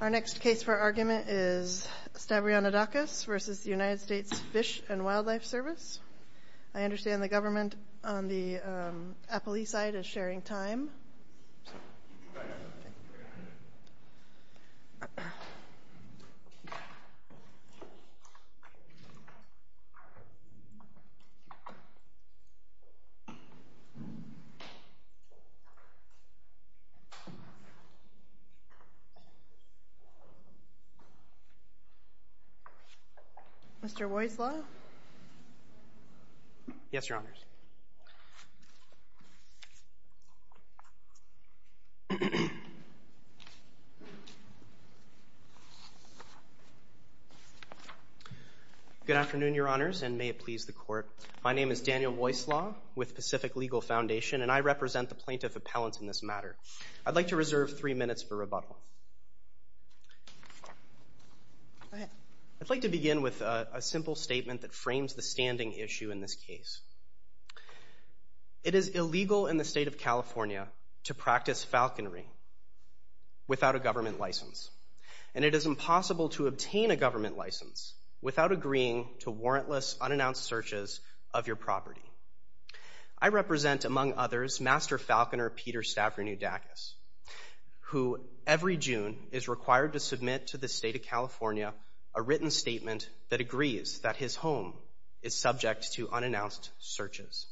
Our next case for argument is Stavrianoudakis v. United States Fish and Wildlife Service. I understand the government on the Appalachia side is sharing time. Mr. Weisslau? Yes, Your Honors. Good afternoon, Your Honors, and may it please the Court. My name is Daniel Weisslau with Pacific Legal Foundation, and I represent the plaintiff appellant in this matter. I'd like to reserve three minutes for rebuttal. I'd like to begin with a simple statement that frames the standing issue in this case. It is illegal in the state of California to practice falconry without a government license, and it is impossible to obtain a government license without agreeing to warrantless, unannounced searches of your property. I represent, among others, Master Falconer Peter Stavrianoudakis, who every June is required to submit to the state of California a written statement that agrees that his home is subject to unannounced searches.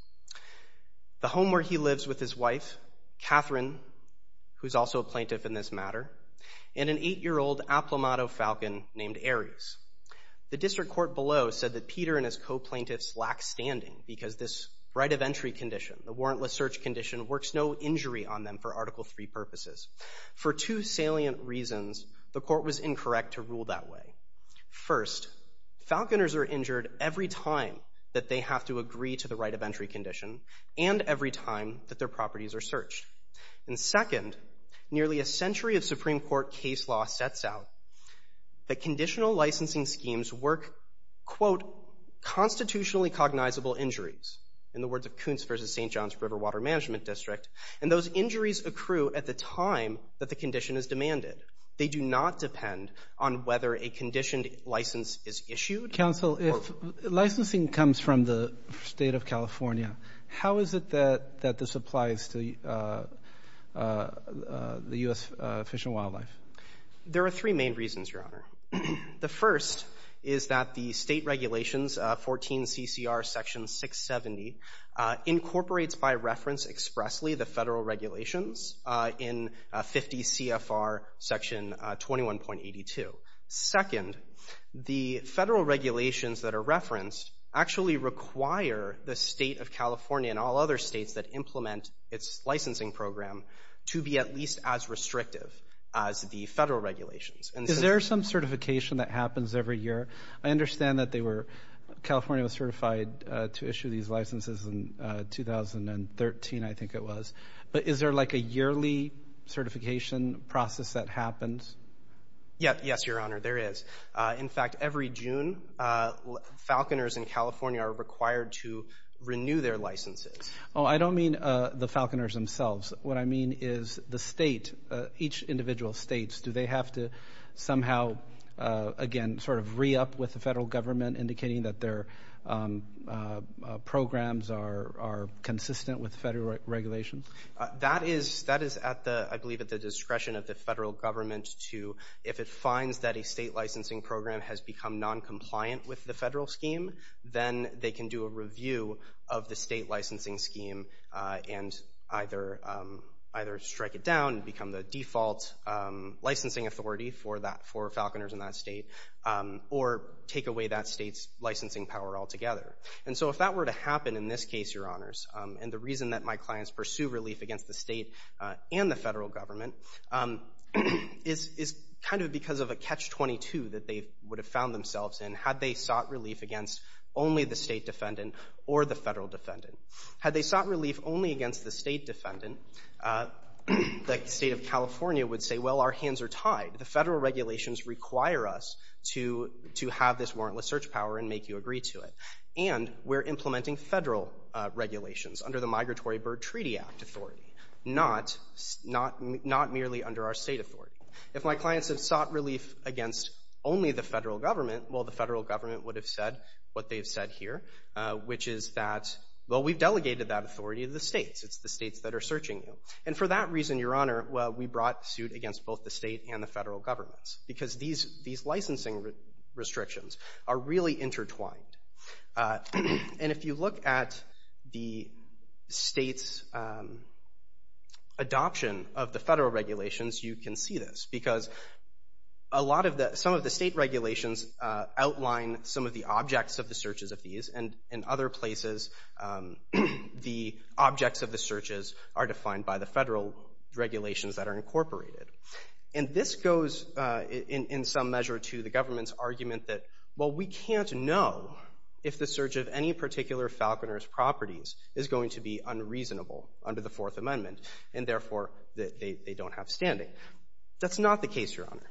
The home where he lives with his wife, Catherine, who's also a plaintiff in this matter, and an eight-year-old Aplomado falcon named Ares. The district court below said that Peter and his co-plaintiffs lack standing because this right of entry condition, the warrantless search condition, works no injury on them for Article III purposes. For two salient reasons, the court was incorrect to rule that way. First, falconers are injured every time that they have to agree to the right of entry condition and every time that their properties are searched. And second, nearly a century of Supreme Court case law sets out that conditional licensing schemes work, quote, constitutionally cognizable injuries, in the words of Kuntz v. St. John's River Water Management District, and those injuries accrue at the time that the condition is demanded. They do not depend on whether a conditioned license is issued. Counsel, if licensing comes from the state of California, how is it that this applies to the U.S. Fish and Wildlife? There are three main reasons, Your Honor. The first is that the state regulations, 14 CCR Section 670, incorporates by reference expressly the federal regulations in 50 CFR Section 21.82. Second, the federal regulations that are referenced actually require the state of California and all other states that implement its licensing program to be at least as restrictive as the federal regulations. Is there some certification that happens every year? I understand that California was certified to issue these licenses in 2013, I think it was. But is there like a yearly certification process that happens? Yes, Your Honor, there is. In fact, every June, falconers in California are required to renew their licenses. Oh, I don't mean the falconers themselves. What I mean is the state, each individual state, do they have to somehow, again, sort of re-up with the federal government, indicating that their programs are consistent with federal regulations? That is, I believe, at the discretion of the federal government to, if it finds that a state licensing program has become noncompliant with the federal scheme, then they can do a review of the state licensing scheme and either strike it down and become the default licensing authority for falconers in that state or take away that state's licensing power altogether. And so if that were to happen in this case, Your Honors, and the reason that my clients pursue relief against the state and the federal government is kind of because of a catch-22 that they would have found themselves in had they sought relief against only the state defendant or the federal defendant. Had they sought relief only against the state defendant, the state of California would say, well, our hands are tied. The federal regulations require us to have this warrantless search power and make you agree to it. And we're implementing federal regulations under the Migratory Bird Treaty Act authority, not merely under our state authority. If my clients have sought relief against only the federal government, well, the federal government would have said what they've said here, which is that, well, we've delegated that authority to the states. It's the states that are searching you. And for that reason, Your Honor, well, we brought suit against both the state and the federal governments because these licensing restrictions are really intertwined. And if you look at the state's adoption of the federal regulations, you can see this, because some of the state regulations outline some of the objects of the searches of these. And in other places, the objects of the searches are defined by the federal regulations that are incorporated. And this goes in some measure to the government's argument that, well, we can't know if the search of any particular falconer's properties is going to be unreasonable under the Fourth Amendment, and therefore they don't have standing. That's not the case, Your Honor,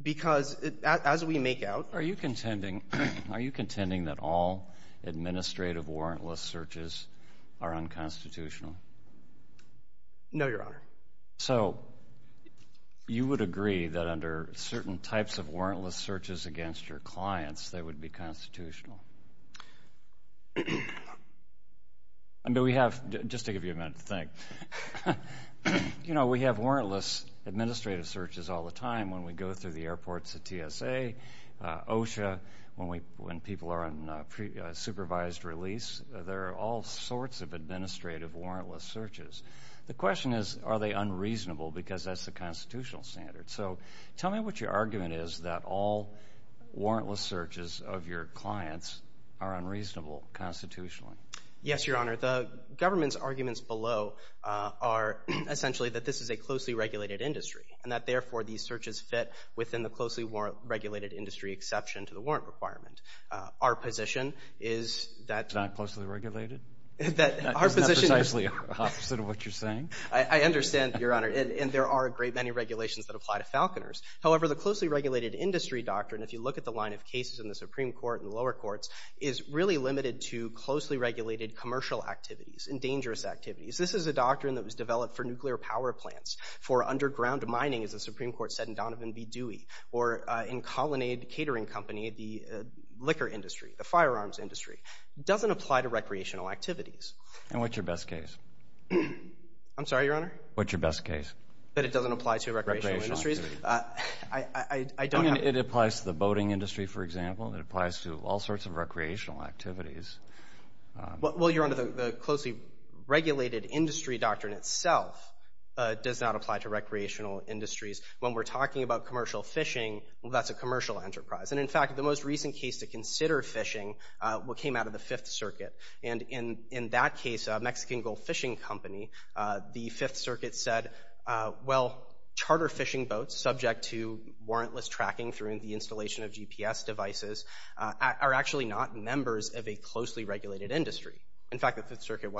because as we make out— Are you contending that all administrative warrantless searches are unconstitutional? No, Your Honor. So you would agree that under certain types of warrantless searches against your clients, they would be constitutional? I mean, we have—just to give you a minute to think. You know, we have warrantless administrative searches all the time when we go through the airports at TSA, OSHA, when people are on supervised release. There are all sorts of administrative warrantless searches. The question is, are they unreasonable because that's the constitutional standard? So tell me what your argument is that all warrantless searches of your clients are unreasonable constitutionally. Yes, Your Honor. The government's arguments below are essentially that this is a closely regulated industry and that, therefore, these searches fit within the closely regulated industry exception to the warrant requirement. Our position is that— It's not closely regulated? That's precisely opposite of what you're saying. I understand, Your Honor. And there are a great many regulations that apply to Falconers. However, the closely regulated industry doctrine, if you look at the line of cases in the Supreme Court and the lower courts, is really limited to closely regulated commercial activities and dangerous activities. This is a doctrine that was developed for nuclear power plants, for underground mining, as the Supreme Court said in Donovan v. Dewey, or in Colonnade Catering Company, the liquor industry, the firearms industry. It doesn't apply to recreational activities. I'm sorry, Your Honor? What's your best case? That it doesn't apply to recreational industries. It applies to the boating industry, for example. It applies to all sorts of recreational activities. Well, Your Honor, the closely regulated industry doctrine itself does not apply to recreational industries. When we're talking about commercial fishing, that's a commercial enterprise. And, in fact, the most recent case to consider fishing came out of the Fifth Circuit. And, in that case, a Mexican Gulf fishing company, the Fifth Circuit said, well, charter fishing boats subject to warrantless tracking through the installation of GPS devices are actually not members of a closely regulated industry. In fact, the Fifth Circuit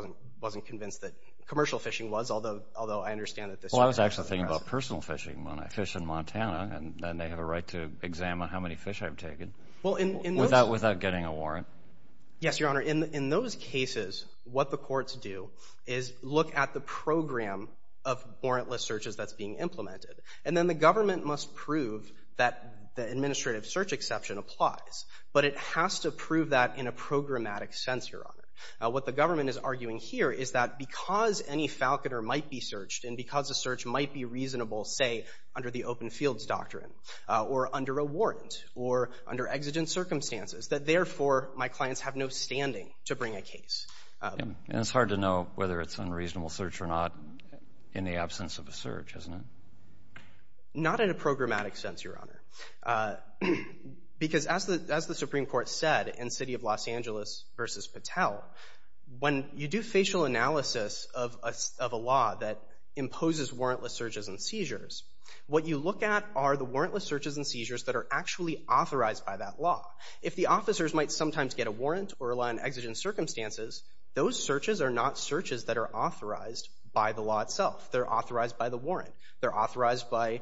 wasn't convinced that commercial fishing was, although I understand that this— Well, I was actually thinking about personal fishing when I fish in Montana, and they have a right to examine how many fish I've taken without getting a warrant. Yes, Your Honor. In those cases, what the courts do is look at the program of warrantless searches that's being implemented. And then the government must prove that the administrative search exception applies. But it has to prove that in a programmatic sense, Your Honor. What the government is arguing here is that because any falconer might be searched and because a search might be reasonable, say, under the open fields doctrine, or under a warrant, or under exigent circumstances, that, therefore, my clients have no standing to bring a case. And it's hard to know whether it's an unreasonable search or not in the absence of a search, isn't it? Not in a programmatic sense, Your Honor. Because as the Supreme Court said in City of Los Angeles v. Patel, when you do facial analysis of a law that imposes warrantless searches and seizures, what you look at are the warrantless searches and seizures that are actually authorized by that law. If the officers might sometimes get a warrant or rely on exigent circumstances, those searches are not searches that are authorized by the law itself. They're authorized by the warrant. They're authorized by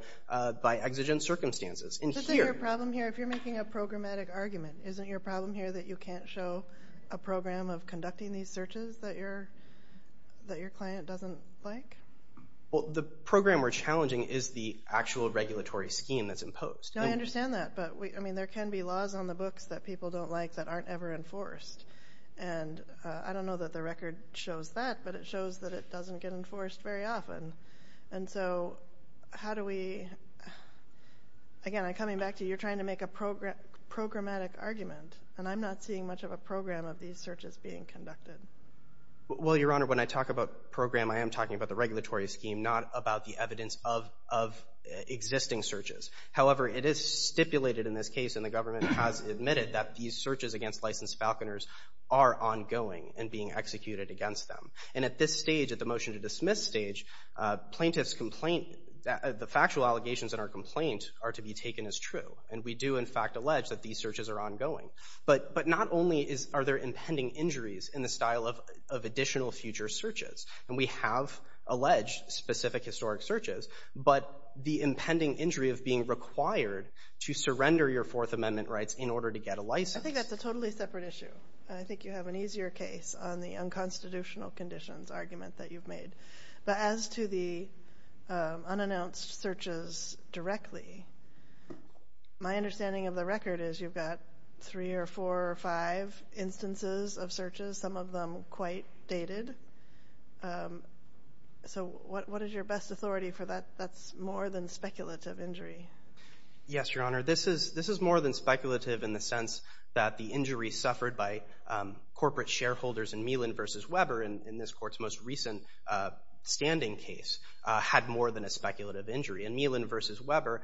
exigent circumstances. Isn't your problem here, if you're making a programmatic argument, isn't your problem here that you can't show a program of conducting these searches that your client doesn't like? Well, the program we're challenging is the actual regulatory scheme that's imposed. No, I understand that. But, I mean, there can be laws on the books that people don't like that aren't ever enforced. And I don't know that the record shows that, but it shows that it doesn't get enforced very often. And so how do we – again, coming back to you, you're trying to make a programmatic argument, and I'm not seeing much of a program of these searches being conducted. Well, Your Honor, when I talk about program, I am talking about the regulatory scheme, not about the evidence of existing searches. However, it is stipulated in this case, and the government has admitted, that these searches against licensed falconers are ongoing and being executed against them. And at this stage, at the motion to dismiss stage, plaintiff's complaint, the factual allegations in our complaint are to be taken as true. And we do, in fact, allege that these searches are ongoing. But not only are there impending injuries in the style of additional future searches, and we have alleged specific historic searches, but the impending injury of being required to surrender your Fourth Amendment rights in order to get a license. I think that's a totally separate issue. I think you have an easier case on the unconstitutional conditions argument that you've made. But as to the unannounced searches directly, my understanding of the record is you've got three or four or five instances of searches, some of them quite dated. So what is your best authority for that? That's more than speculative injury. Yes, Your Honor. This is more than speculative in the sense that the injury suffered by corporate shareholders in Meehlin v. Weber, in this Court's most recent standing case, had more than a speculative injury. In Meehlin v. Weber,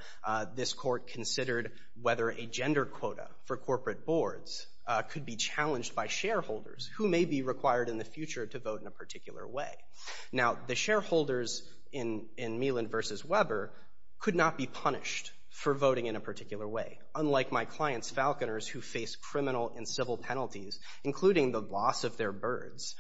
this Court considered whether a gender quota for corporate boards could be challenged by shareholders who may be required in the future to vote in a particular way. Now, the shareholders in Meehlin v. Weber could not be punished for voting in a particular way. Unlike my clients, Falconers, who face criminal and civil penalties, including the loss of their birds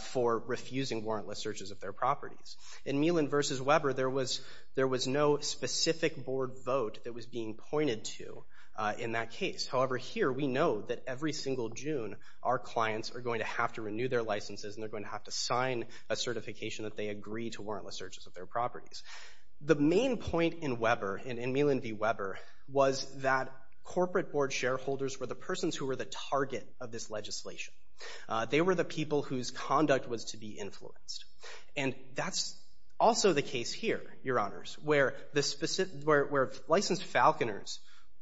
for refusing warrantless searches of their properties. In Meehlin v. Weber, there was no specific board vote that was being pointed to in that case. However, here we know that every single June, our clients are going to have to renew their licenses and they're going to have to sign a certification that they agree to warrantless searches of their properties. The main point in Weber, in Meehlin v. Weber, was that corporate board shareholders were the persons who were the target of this legislation. They were the people whose conduct was to be influenced. And that's also the case here, Your Honors, where licensed Falconers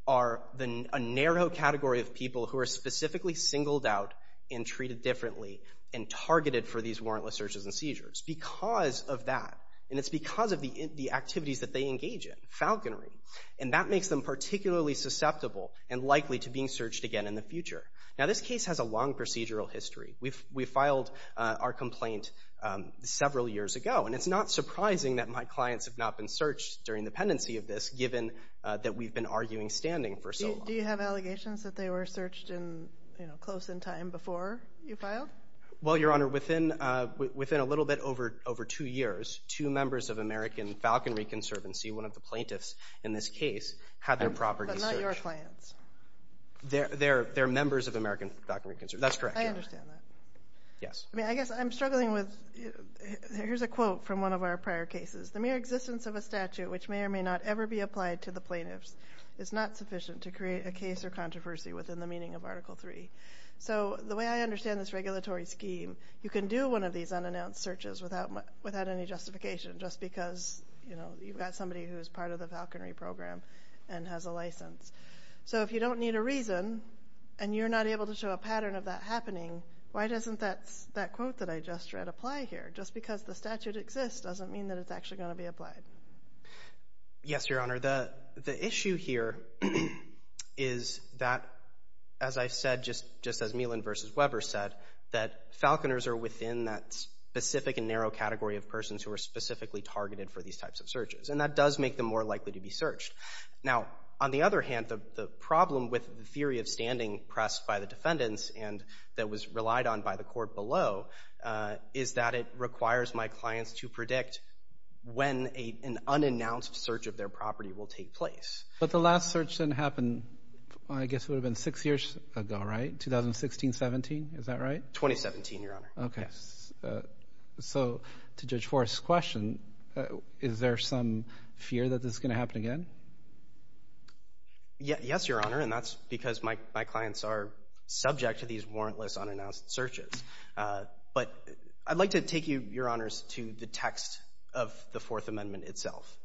are a narrow category of people who are specifically singled out and treated differently and targeted for these warrantless searches and seizures because of that. And it's because of the activities that they engage in, falconry. And that makes them particularly susceptible and likely to being searched again in the future. Now, this case has a long procedural history. We filed our complaint several years ago, and it's not surprising that my clients have not been searched during the pendency of this, given that we've been arguing standing for so long. Do you have allegations that they were searched close in time before you filed? Well, Your Honor, within a little bit over two years, two members of American Falconry Conservancy, one of the plaintiffs in this case, had their properties searched. But not your clients. They're members of American Falconry Conservancy. That's correct, Your Honor. I understand that. Yes. I mean, I guess I'm struggling with – here's a quote from one of our prior cases. The mere existence of a statute which may or may not ever be applied to the plaintiffs is not sufficient to create a case or controversy within the meaning of Article III. So the way I understand this regulatory scheme, you can do one of these unannounced searches without any justification just because, you know, you've got somebody who is part of the falconry program and has a license. So if you don't need a reason and you're not able to show a pattern of that happening, why doesn't that quote that I just read apply here? Just because the statute exists doesn't mean that it's actually going to be applied. Yes, Your Honor. The issue here is that, as I said, just as Meehlin v. Weber said, that falconers are within that specific and narrow category of persons who are specifically targeted for these types of searches. And that does make them more likely to be searched. Now, on the other hand, the problem with the theory of standing pressed by the defendants and that was relied on by the court below is that it requires my clients to predict when an unannounced search of their property will take place. But the last search then happened, I guess it would have been six years ago, right? 2016, 17? Is that right? 2017, Your Honor. Okay. So to Judge Forrest's question, is there some fear that this is going to happen again? Yes, Your Honor, and that's because my clients are subject to these warrantless unannounced searches. But I'd like to take you, Your Honors, to the text of the Fourth Amendment itself.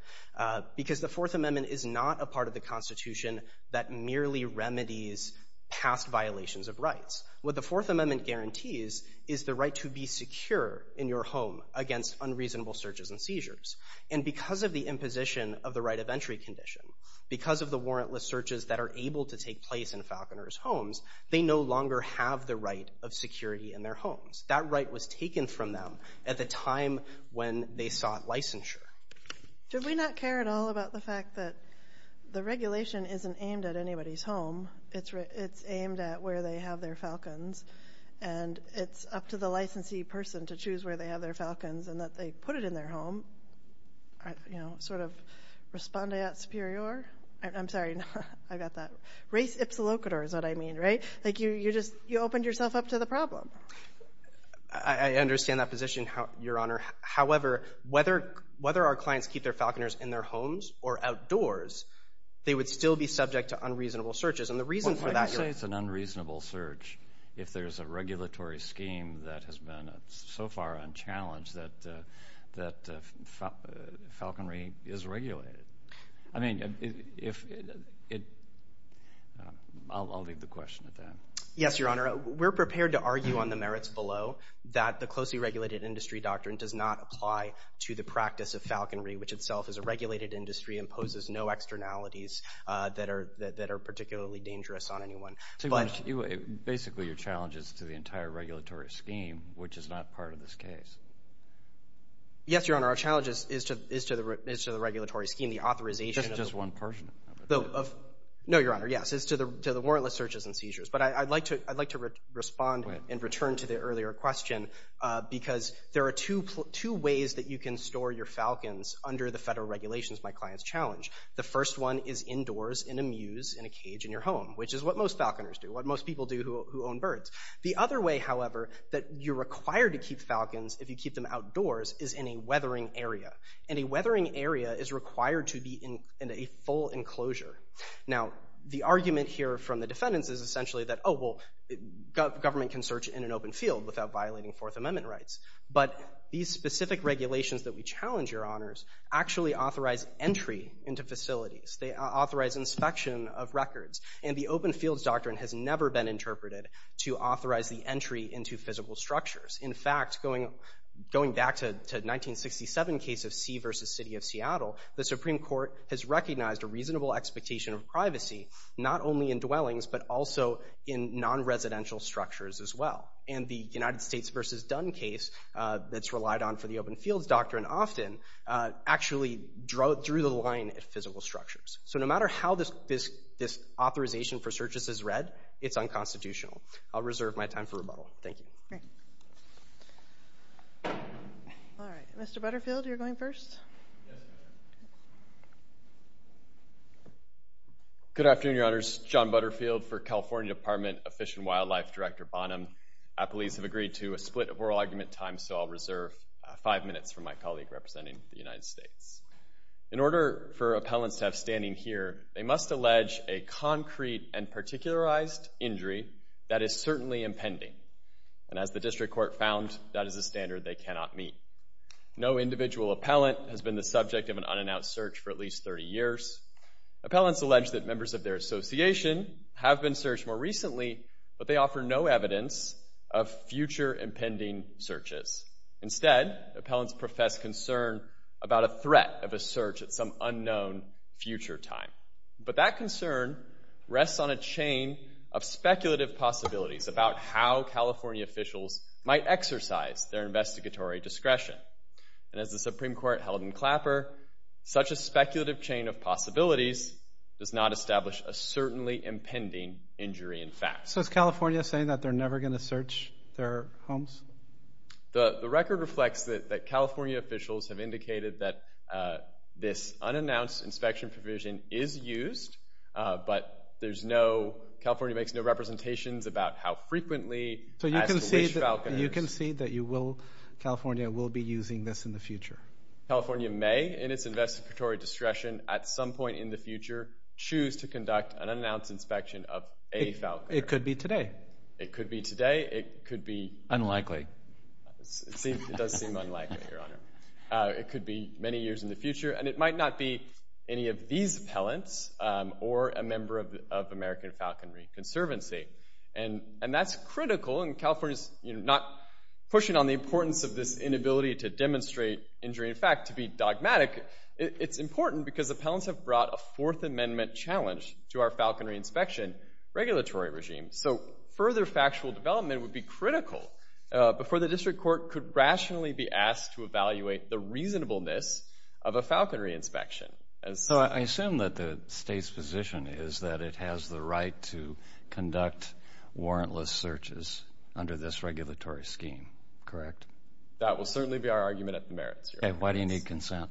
Because the Fourth Amendment is not a part of the Constitution that merely remedies past violations of rights. What the Fourth Amendment guarantees is the right to be secure in your home against unreasonable searches and seizures. And because of the imposition of the right of entry condition, because of the warrantless searches that are able to take place in Falconers' homes, they no longer have the right of security in their homes. That right was taken from them at the time when they sought licensure. Did we not care at all about the fact that the regulation isn't aimed at anybody's home? It's aimed at where they have their Falcons, and it's up to the licensee person to choose where they have their Falcons and that they put it in their home, you know, sort of respondeat superior? I'm sorry, I got that. Res ipsa locator is what I mean, right? Like you just opened yourself up to the problem. I understand that position, Your Honor. However, whether our clients keep their Falconers in their homes or outdoors, they would still be subject to unreasonable searches, and the reason for that is Well, why do you say it's an unreasonable search if there's a regulatory scheme that has been so far unchallenged that falconry is regulated? I mean, I'll leave the question at that. Yes, Your Honor, we're prepared to argue on the merits below that the closely regulated industry doctrine does not apply to the practice of falconry, which itself is a regulated industry and poses no externalities that are particularly dangerous on anyone. Basically, your challenge is to the entire regulatory scheme, which is not part of this case. Yes, Your Honor, our challenge is to the regulatory scheme, the authorization of Just one person. No, Your Honor, yes, is to the warrantless searches and seizures. But I'd like to respond and return to the earlier question because there are two ways that you can store your falcons under the federal regulations my clients challenge. The first one is indoors in a muse in a cage in your home, which is what most falconers do, what most people do who own birds. The other way, however, that you're required to keep falcons if you keep them outdoors is in a weathering area, and a weathering area is required to be in a full enclosure. Now, the argument here from the defendants is essentially that, oh, well, government can search in an open field without violating Fourth Amendment rights. But these specific regulations that we challenge, Your Honors, actually authorize entry into facilities. They authorize inspection of records. And the open fields doctrine has never been interpreted to authorize the entry into physical structures. In fact, going back to the 1967 case of C v. City of Seattle, the Supreme Court has recognized a reasonable expectation of privacy, not only in dwellings but also in non-residential structures as well. And the United States v. Dunn case that's relied on for the open fields doctrine often actually drew the line at physical structures. So no matter how this authorization for searches is read, it's unconstitutional. I'll reserve my time for rebuttal. Thank you. All right. Mr. Butterfield, you're going first. Yes, Your Honor. Good afternoon, Your Honors. John Butterfield for California Department of Fish and Wildlife, Director Bonham. Appellees have agreed to a split of oral argument time, so I'll reserve five minutes for my colleague representing the United States. In order for appellants to have standing here, they must allege a concrete and particularized injury that is certainly impending. And as the district court found, that is a standard they cannot meet. No individual appellant has been the subject of an unannounced search for at least 30 years. Appellants allege that members of their association have been searched more recently, but they offer no evidence of future impending searches. Instead, appellants profess concern about a threat of a search at some unknown future time. But that concern rests on a chain of speculative possibilities about how California officials might exercise their investigatory discretion. And as the Supreme Court held in Clapper, such a speculative chain of possibilities does not establish a certainly impending injury in fact. So is California saying that they're never going to search their homes? The record reflects that California officials have indicated that this unannounced inspection provision is used, but California makes no representations about how frequently. So you can see that California will be using this in the future? California may, in its investigatory discretion, at some point in the future, choose to conduct an unannounced inspection of a falconer. It could be today. It could be today. It could be... Unlikely. It does seem unlikely, Your Honor. It could be many years in the future. And it might not be any of these appellants or a member of American Falconry Conservancy. And that's critical. And California's not pushing on the importance of this inability to demonstrate injury in fact to be dogmatic. It's important because appellants have brought a Fourth Amendment challenge to our falconry inspection regulatory regime. So further factual development would be critical before the district court could rationally be asked to evaluate the reasonableness of a falconry inspection. So I assume that the state's position is that it has the right to conduct warrantless searches under this regulatory scheme. Correct? That will certainly be our argument at the merits, Your Honor. Okay. Why do you need consent?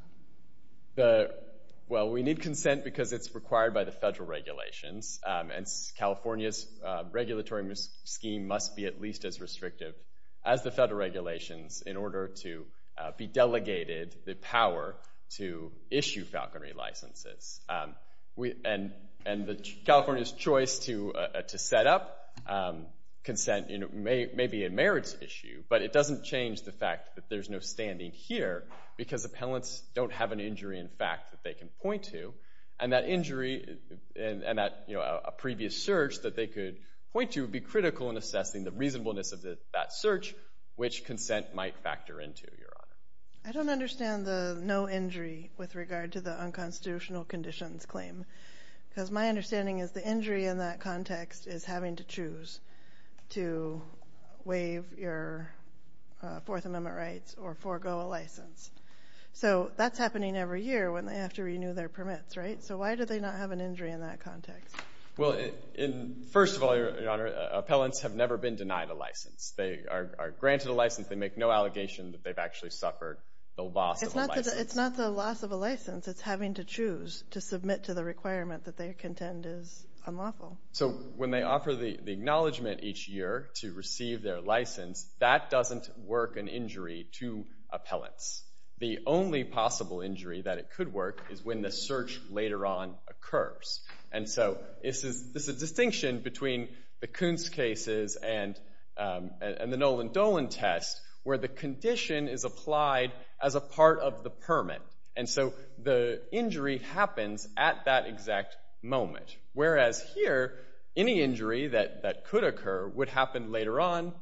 Well, we need consent because it's required by the federal regulations. And California's regulatory scheme must be at least as restrictive as the federal regulations in order to be delegated the power to issue falconry licenses. And California's choice to set up consent may be a merits issue. But it doesn't change the fact that there's no standing here because appellants don't have an injury in fact that they can point to. And that injury and that previous search that they could point to would be critical in assessing the reasonableness of that search, which consent might factor into, Your Honor. I don't understand the no injury with regard to the unconstitutional conditions claim because my understanding is the injury in that context is having to choose to waive your Fourth Amendment rights or forego a license. So that's happening every year when they have to renew their permits, right? So why do they not have an injury in that context? Well, first of all, Your Honor, appellants have never been denied a license. They are granted a license. They make no allegation that they've actually suffered the loss of a license. It's not the loss of a license. It's having to choose to submit to the requirement that they contend is unlawful. So when they offer the acknowledgement each year to receive their license, that doesn't work an injury to appellants. The only possible injury that it could work is when the search later on occurs. And so this is a distinction between the Kuntz cases and the Nolan Dolan test where the condition is applied as a part of the permit. And so the injury happens at that exact moment. Whereas here, any injury that could occur would happen later on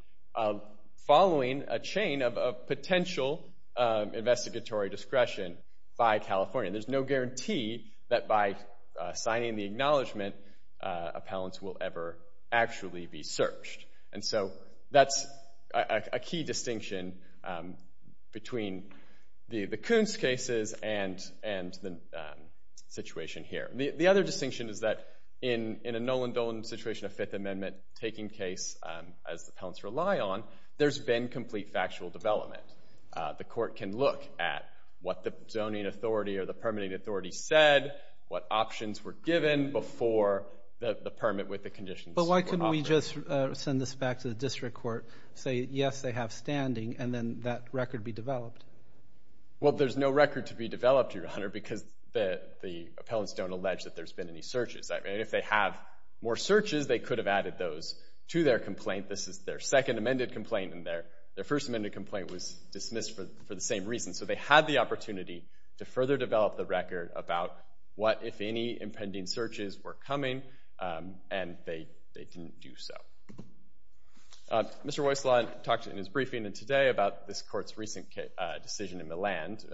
following a chain of potential investigatory discretion by California. There's no guarantee that by signing the acknowledgement, appellants will ever actually be searched. And so that's a key distinction between the Kuntz cases and the situation here. The other distinction is that in a Nolan Dolan situation, a Fifth Amendment taking case as the appellants rely on, there's been complete factual development. The court can look at what the zoning authority or the permitting authority said, what options were given before the permit with the conditions were offered. But why couldn't we just send this back to the district court, say, yes, they have standing, and then that record be developed? Well, there's no record to be developed, Your Honor, because the appellants don't allege that there's been any searches. If they have more searches, they could have added those to their complaint. This is their second amended complaint, and their first amended complaint was dismissed for the same reason. So they had the opportunity to further develop the record about what, if any, impending searches were coming, and they didn't do so. Mr. Weisslau talked in his briefing today about this court's recent decision in Milland,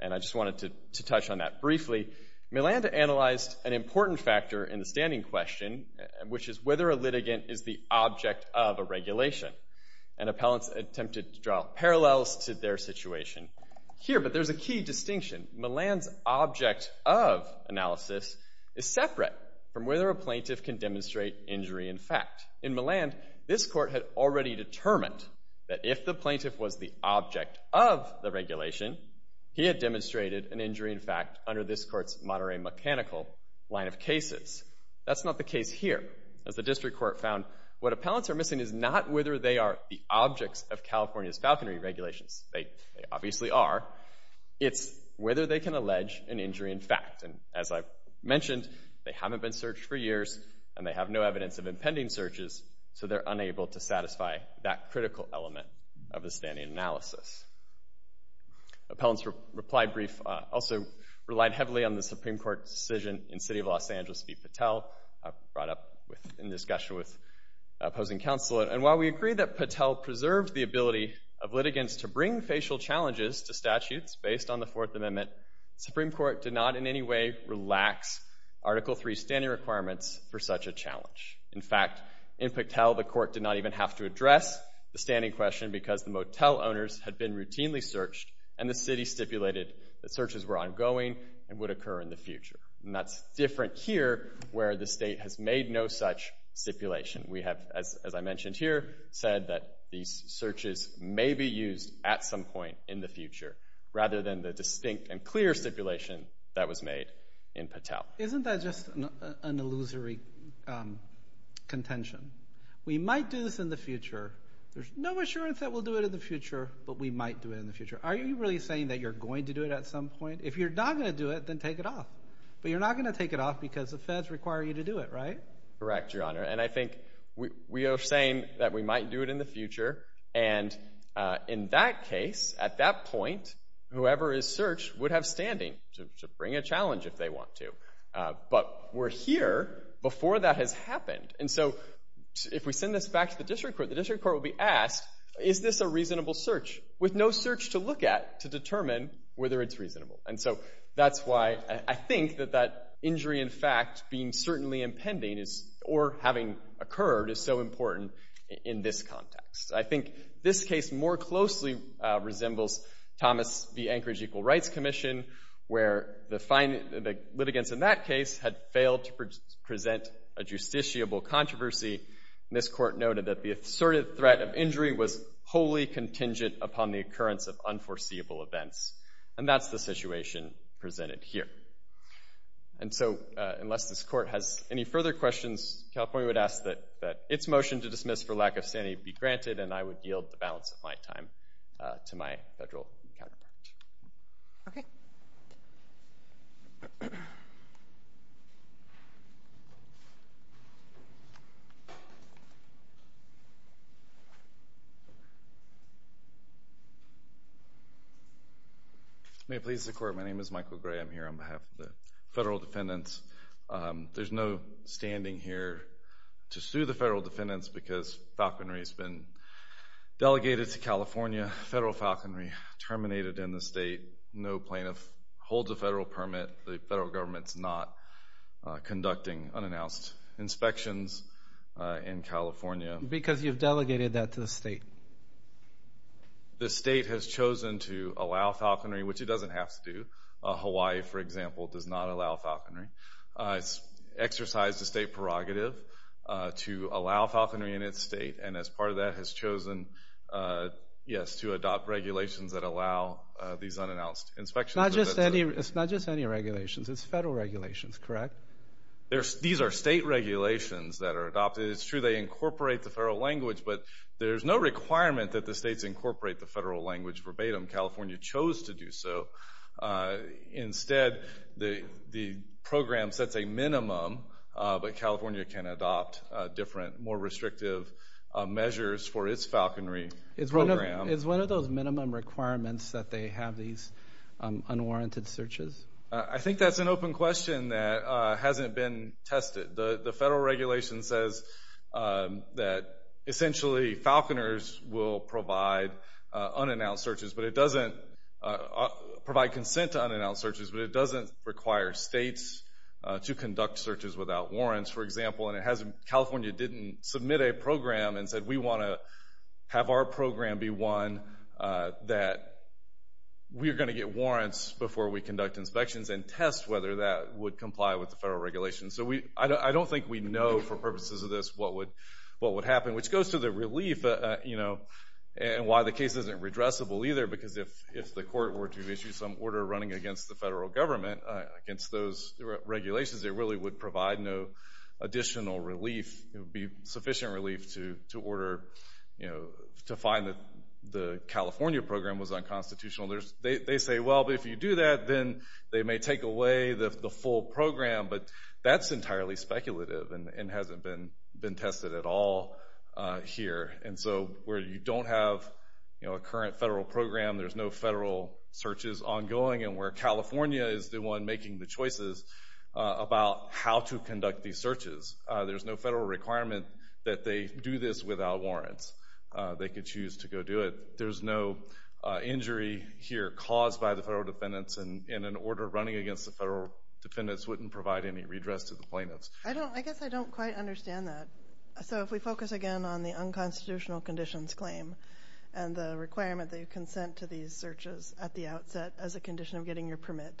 and I just wanted to touch on that briefly. Milland analyzed an important factor in the standing question, which is whether a litigant is the object of a regulation. And appellants attempted to draw parallels to their situation here, but there's a key distinction. Milland's object of analysis is separate from whether a plaintiff can demonstrate injury in fact. In Milland, this court had already determined that if the plaintiff was the object of the regulation, he had demonstrated an injury in fact under this court's moderate mechanical line of cases. That's not the case here. As the district court found, what appellants are missing is not whether they are the objects of California's falconry regulations. They obviously are. It's whether they can allege an injury in fact. And as I mentioned, they haven't been searched for years, and they have no evidence of impending searches, so they're unable to satisfy that critical element of the standing analysis. Appellants' reply brief also relied heavily on the Supreme Court's decision in City of Los Angeles v. Patel, brought up in discussion with opposing counsel. And while we agree that Patel preserved the ability of litigants to bring facial challenges to statutes based on the Fourth Amendment, the Supreme Court did not in any way relax Article III standing requirements for such a challenge. In fact, in Patel, the court did not even have to address the standing question because the motel owners had been routinely searched, and the city stipulated that searches were ongoing and would occur in the future. And that's different here, where the state has made no such stipulation. We have, as I mentioned here, said that these searches may be used at some point in the future rather than the distinct and clear stipulation that was made in Patel. Isn't that just an illusory contention? We might do this in the future. There's no assurance that we'll do it in the future, but we might do it in the future. Are you really saying that you're going to do it at some point? If you're not going to do it, then take it off. But you're not going to take it off because the feds require you to do it, right? Correct, Your Honor. And I think we are saying that we might do it in the future. And in that case, at that point, whoever is searched would have standing to bring a challenge if they want to. But we're here before that has happened. And so if we send this back to the district court, the district court will be asked, is this a reasonable search with no search to look at to determine whether it's reasonable? And so that's why I think that that injury in fact being certainly impending or having occurred is so important in this context. I think this case more closely resembles Thomas v. Anchorage Equal Rights Commission, where the litigants in that case had failed to present a justiciable controversy. And this court noted that the assertive threat of injury was wholly contingent upon the occurrence of unforeseeable events. And that's the situation presented here. And so unless this court has any further questions, California would ask that its motion to dismiss for lack of standing be granted, and I would yield the balance of my time to my federal counterpart. Okay. Thank you. May it please the Court, my name is Michael Gray. I'm here on behalf of the federal defendants. There's no standing here to sue the federal defendants because Falconry has been delegated to California. Federal Falconry terminated in the state. No plaintiff holds a federal permit. The federal government's not conducting unannounced inspections in California. Because you've delegated that to the state. The state has chosen to allow Falconry, which it doesn't have to do. Hawaii, for example, does not allow Falconry. It's exercised a state prerogative to allow Falconry in its state, and as part of that has chosen, yes, to adopt regulations that allow these unannounced inspections. It's not just any regulations. It's federal regulations, correct? These are state regulations that are adopted. It's true they incorporate the federal language, but there's no requirement that the states incorporate the federal language verbatim. California chose to do so. Instead, the program sets a minimum, but California can adopt different, more restrictive measures for its Falconry program. Is one of those minimum requirements that they have these unwarranted searches? I think that's an open question that hasn't been tested. The federal regulation says that essentially Falconers will provide unannounced searches, but it doesn't provide consent to unannounced searches, but it doesn't require states to conduct searches without warrants, for example, and California didn't submit a program and said we want to have our program be one that we are going to get warrants before we conduct inspections and test whether that would comply with the federal regulations. So I don't think we know for purposes of this what would happen, which goes to the relief and why the case isn't redressable either, because if the court were to issue some order running against the federal government, against those regulations, it really would provide no additional relief. It would be sufficient relief to find that the California program was unconstitutional. They say, well, if you do that, then they may take away the full program, but that's entirely speculative and hasn't been tested at all here. And so where you don't have a current federal program, there's no federal searches ongoing, and where California is the one making the choices about how to conduct these searches, there's no federal requirement that they do this without warrants. They could choose to go do it. There's no injury here caused by the federal defendants, and an order running against the federal defendants wouldn't provide any redress to the plaintiffs. I guess I don't quite understand that. So if we focus again on the unconstitutional conditions claim and the requirement that you consent to these searches at the outset as a condition of getting your permit,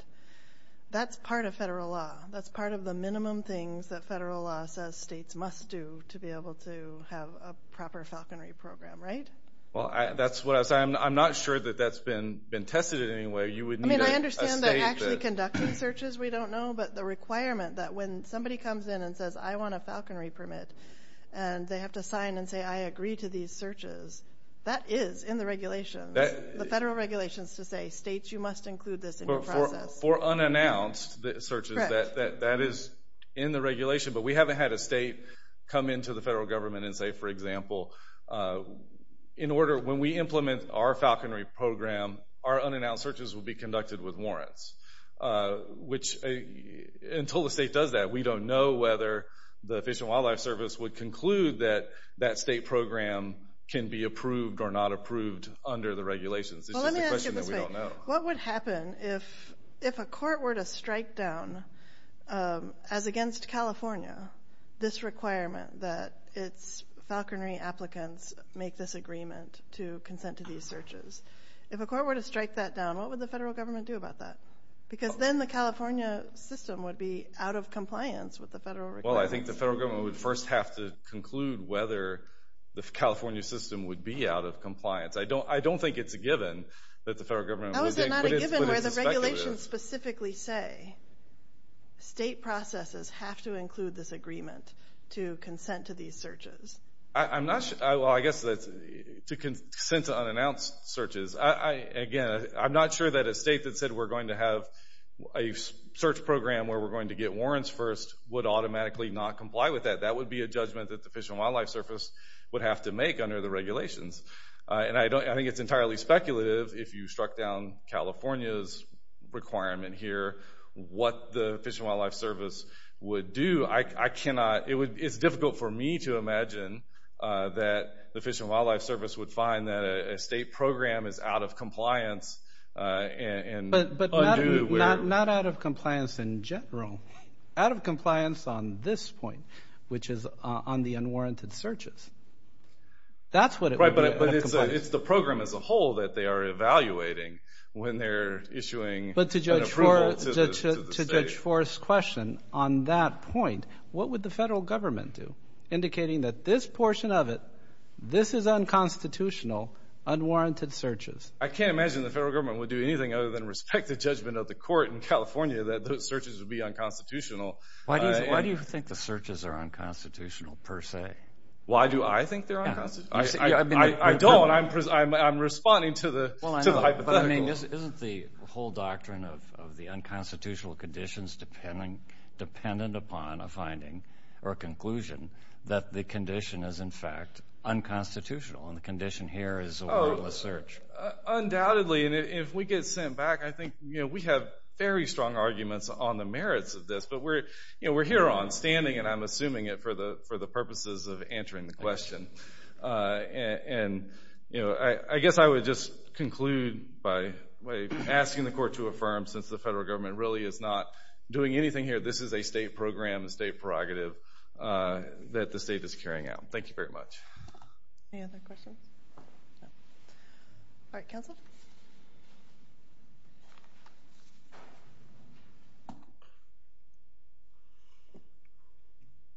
that's part of federal law. That's part of the minimum things that federal law says states must do to be able to have a proper falconry program, right? Well, that's what I was saying. I'm not sure that that's been tested in any way. I mean, I understand they're actually conducting searches. We don't know. But the requirement that when somebody comes in and says, I want a falconry permit, and they have to sign and say, I agree to these searches, that is in the regulations. The federal regulation is to say, states, you must include this in your process. For unannounced searches, that is in the regulation, but we haven't had a state come into the federal government and say, for example, in order when we implement our falconry program, our unannounced searches will be conducted with warrants, which until the state does that, we don't know whether the Fish and Wildlife Service would conclude that that state program can be approved or not approved under the regulations. It's just a question that we don't know. Well, let me ask you this way. What would happen if a court were to strike down, as against California, this requirement that its falconry applicants make this agreement to consent to these searches? If a court were to strike that down, what would the federal government do about that? Because then the California system would be out of compliance with the federal requirements. Well, I think the federal government would first have to conclude whether the California system would be out of compliance. I don't think it's a given that the federal government would think, but it's speculative. How is it not a given where the regulations specifically say, state processes have to include this agreement to consent to these searches? Well, I guess that's to consent to unannounced searches. Again, I'm not sure that a state that said we're going to have a search program where we're going to get warrants first would automatically not comply with that. That would be a judgment that the Fish and Wildlife Service would have to make under the regulations. And I think it's entirely speculative if you struck down California's requirement here what the Fish and Wildlife Service would do. It's difficult for me to imagine that the Fish and Wildlife Service would find that a state program is out of compliance and undue. But not out of compliance in general. Out of compliance on this point, which is on the unwarranted searches. That's what it would be, out of compliance. Right, but it's the program as a whole that they are evaluating when they're issuing an approval to the state. On the Fish Force question on that point, what would the federal government do? Indicating that this portion of it, this is unconstitutional, unwarranted searches. I can't imagine the federal government would do anything other than respect the judgment of the court in California that those searches would be unconstitutional. Why do you think the searches are unconstitutional, per se? Why do I think they're unconstitutional? I don't. I'm responding to the hypothetical. Isn't the whole doctrine of the unconstitutional conditions dependent upon a finding or a conclusion that the condition is, in fact, unconstitutional and the condition here is a warrantless search? Undoubtedly, and if we get sent back, I think we have very strong arguments on the merits of this. But we're here on standing, and I'm assuming it for the purposes of answering the question. I guess I would just conclude by asking the court to affirm, since the federal government really is not doing anything here, this is a state program, a state prerogative that the state is carrying out. Thank you very much. Any other questions? All right, counsel.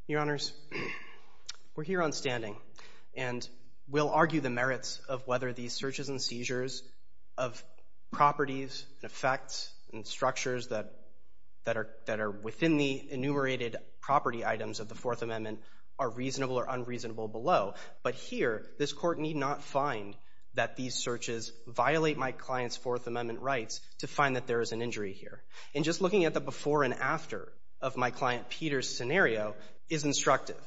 Your Honors, we're here on standing, and we'll argue the merits of whether these searches and seizures of properties and effects and structures that are within the enumerated property items of the Fourth Amendment are reasonable or unreasonable below. But here, this court need not find that these searches violate my client's Fourth Amendment rights to find that there is an injury here. And just looking at the before and after of my client Peter's scenario is instructive.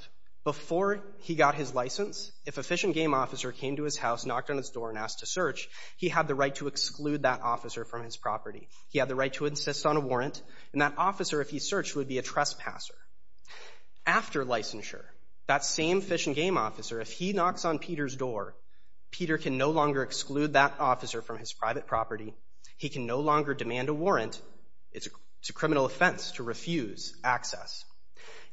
Before he got his license, if a Fish and Game officer came to his house, knocked on his door, and asked to search, he had the right to exclude that officer from his property. He had the right to insist on a warrant, and that officer, if he searched, would be a trespasser. After licensure, that same Fish and Game officer, if he knocks on Peter's door, Peter can no longer exclude that officer from his private property. He can no longer demand a warrant. It's a criminal offense to refuse access.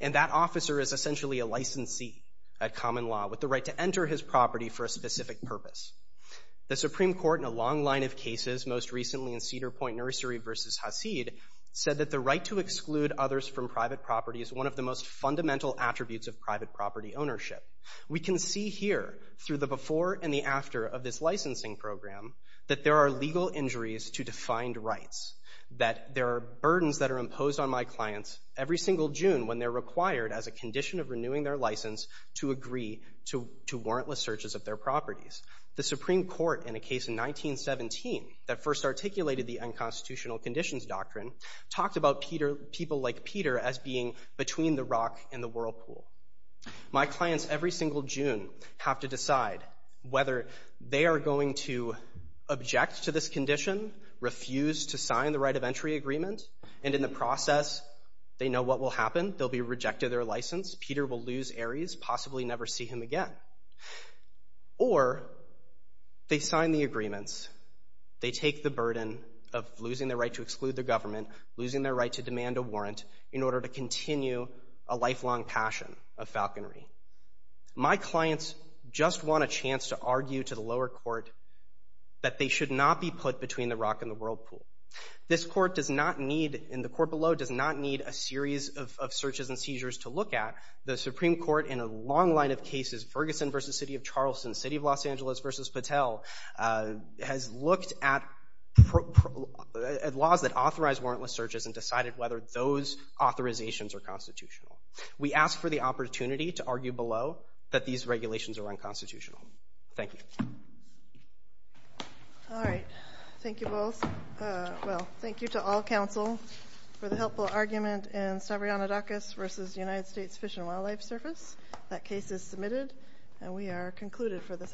And that officer is essentially a licensee at common law with the right to enter his property for a specific purpose. The Supreme Court in a long line of cases, most recently in Cedar Point Nursery v. Hasid, said that the right to exclude others from private property is one of the most fundamental attributes of private property ownership. We can see here, through the before and the after of this licensing program, that there are legal injuries to defined rights, that there are burdens that are imposed on my clients every single June when they're required, as a condition of renewing their license, to agree to warrantless searches of their properties. The Supreme Court, in a case in 1917, that first articulated the unconstitutional conditions doctrine, talked about people like Peter as being between the rock and the whirlpool. My clients, every single June, have to decide whether they are going to object to this condition, refuse to sign the right of entry agreement, and in the process, they know what will happen. They'll be rejected their license. Peter will lose Ares, possibly never see him again. Or, they sign the agreements, they take the burden of losing their right to exclude their government, losing their right to demand a warrant, in order to continue a lifelong passion of falconry. My clients just want a chance to argue to the lower court that they should not be put between the rock and the whirlpool. This court does not need, and the court below, does not need a series of searches and seizures to look at. The Supreme Court, in a long line of cases, Ferguson v. City of Charleston, City of Los Angeles v. Patel, has looked at laws that authorize warrantless searches and decided whether those authorizations are constitutional. We ask for the opportunity to argue below that these regulations are unconstitutional. Thank you. All right. Thank you both. Well, thank you to all counsel for the helpful argument in Stavrionidakis v. United States Fish and Wildlife Service. That case is submitted, and we are concluded for this afternoon.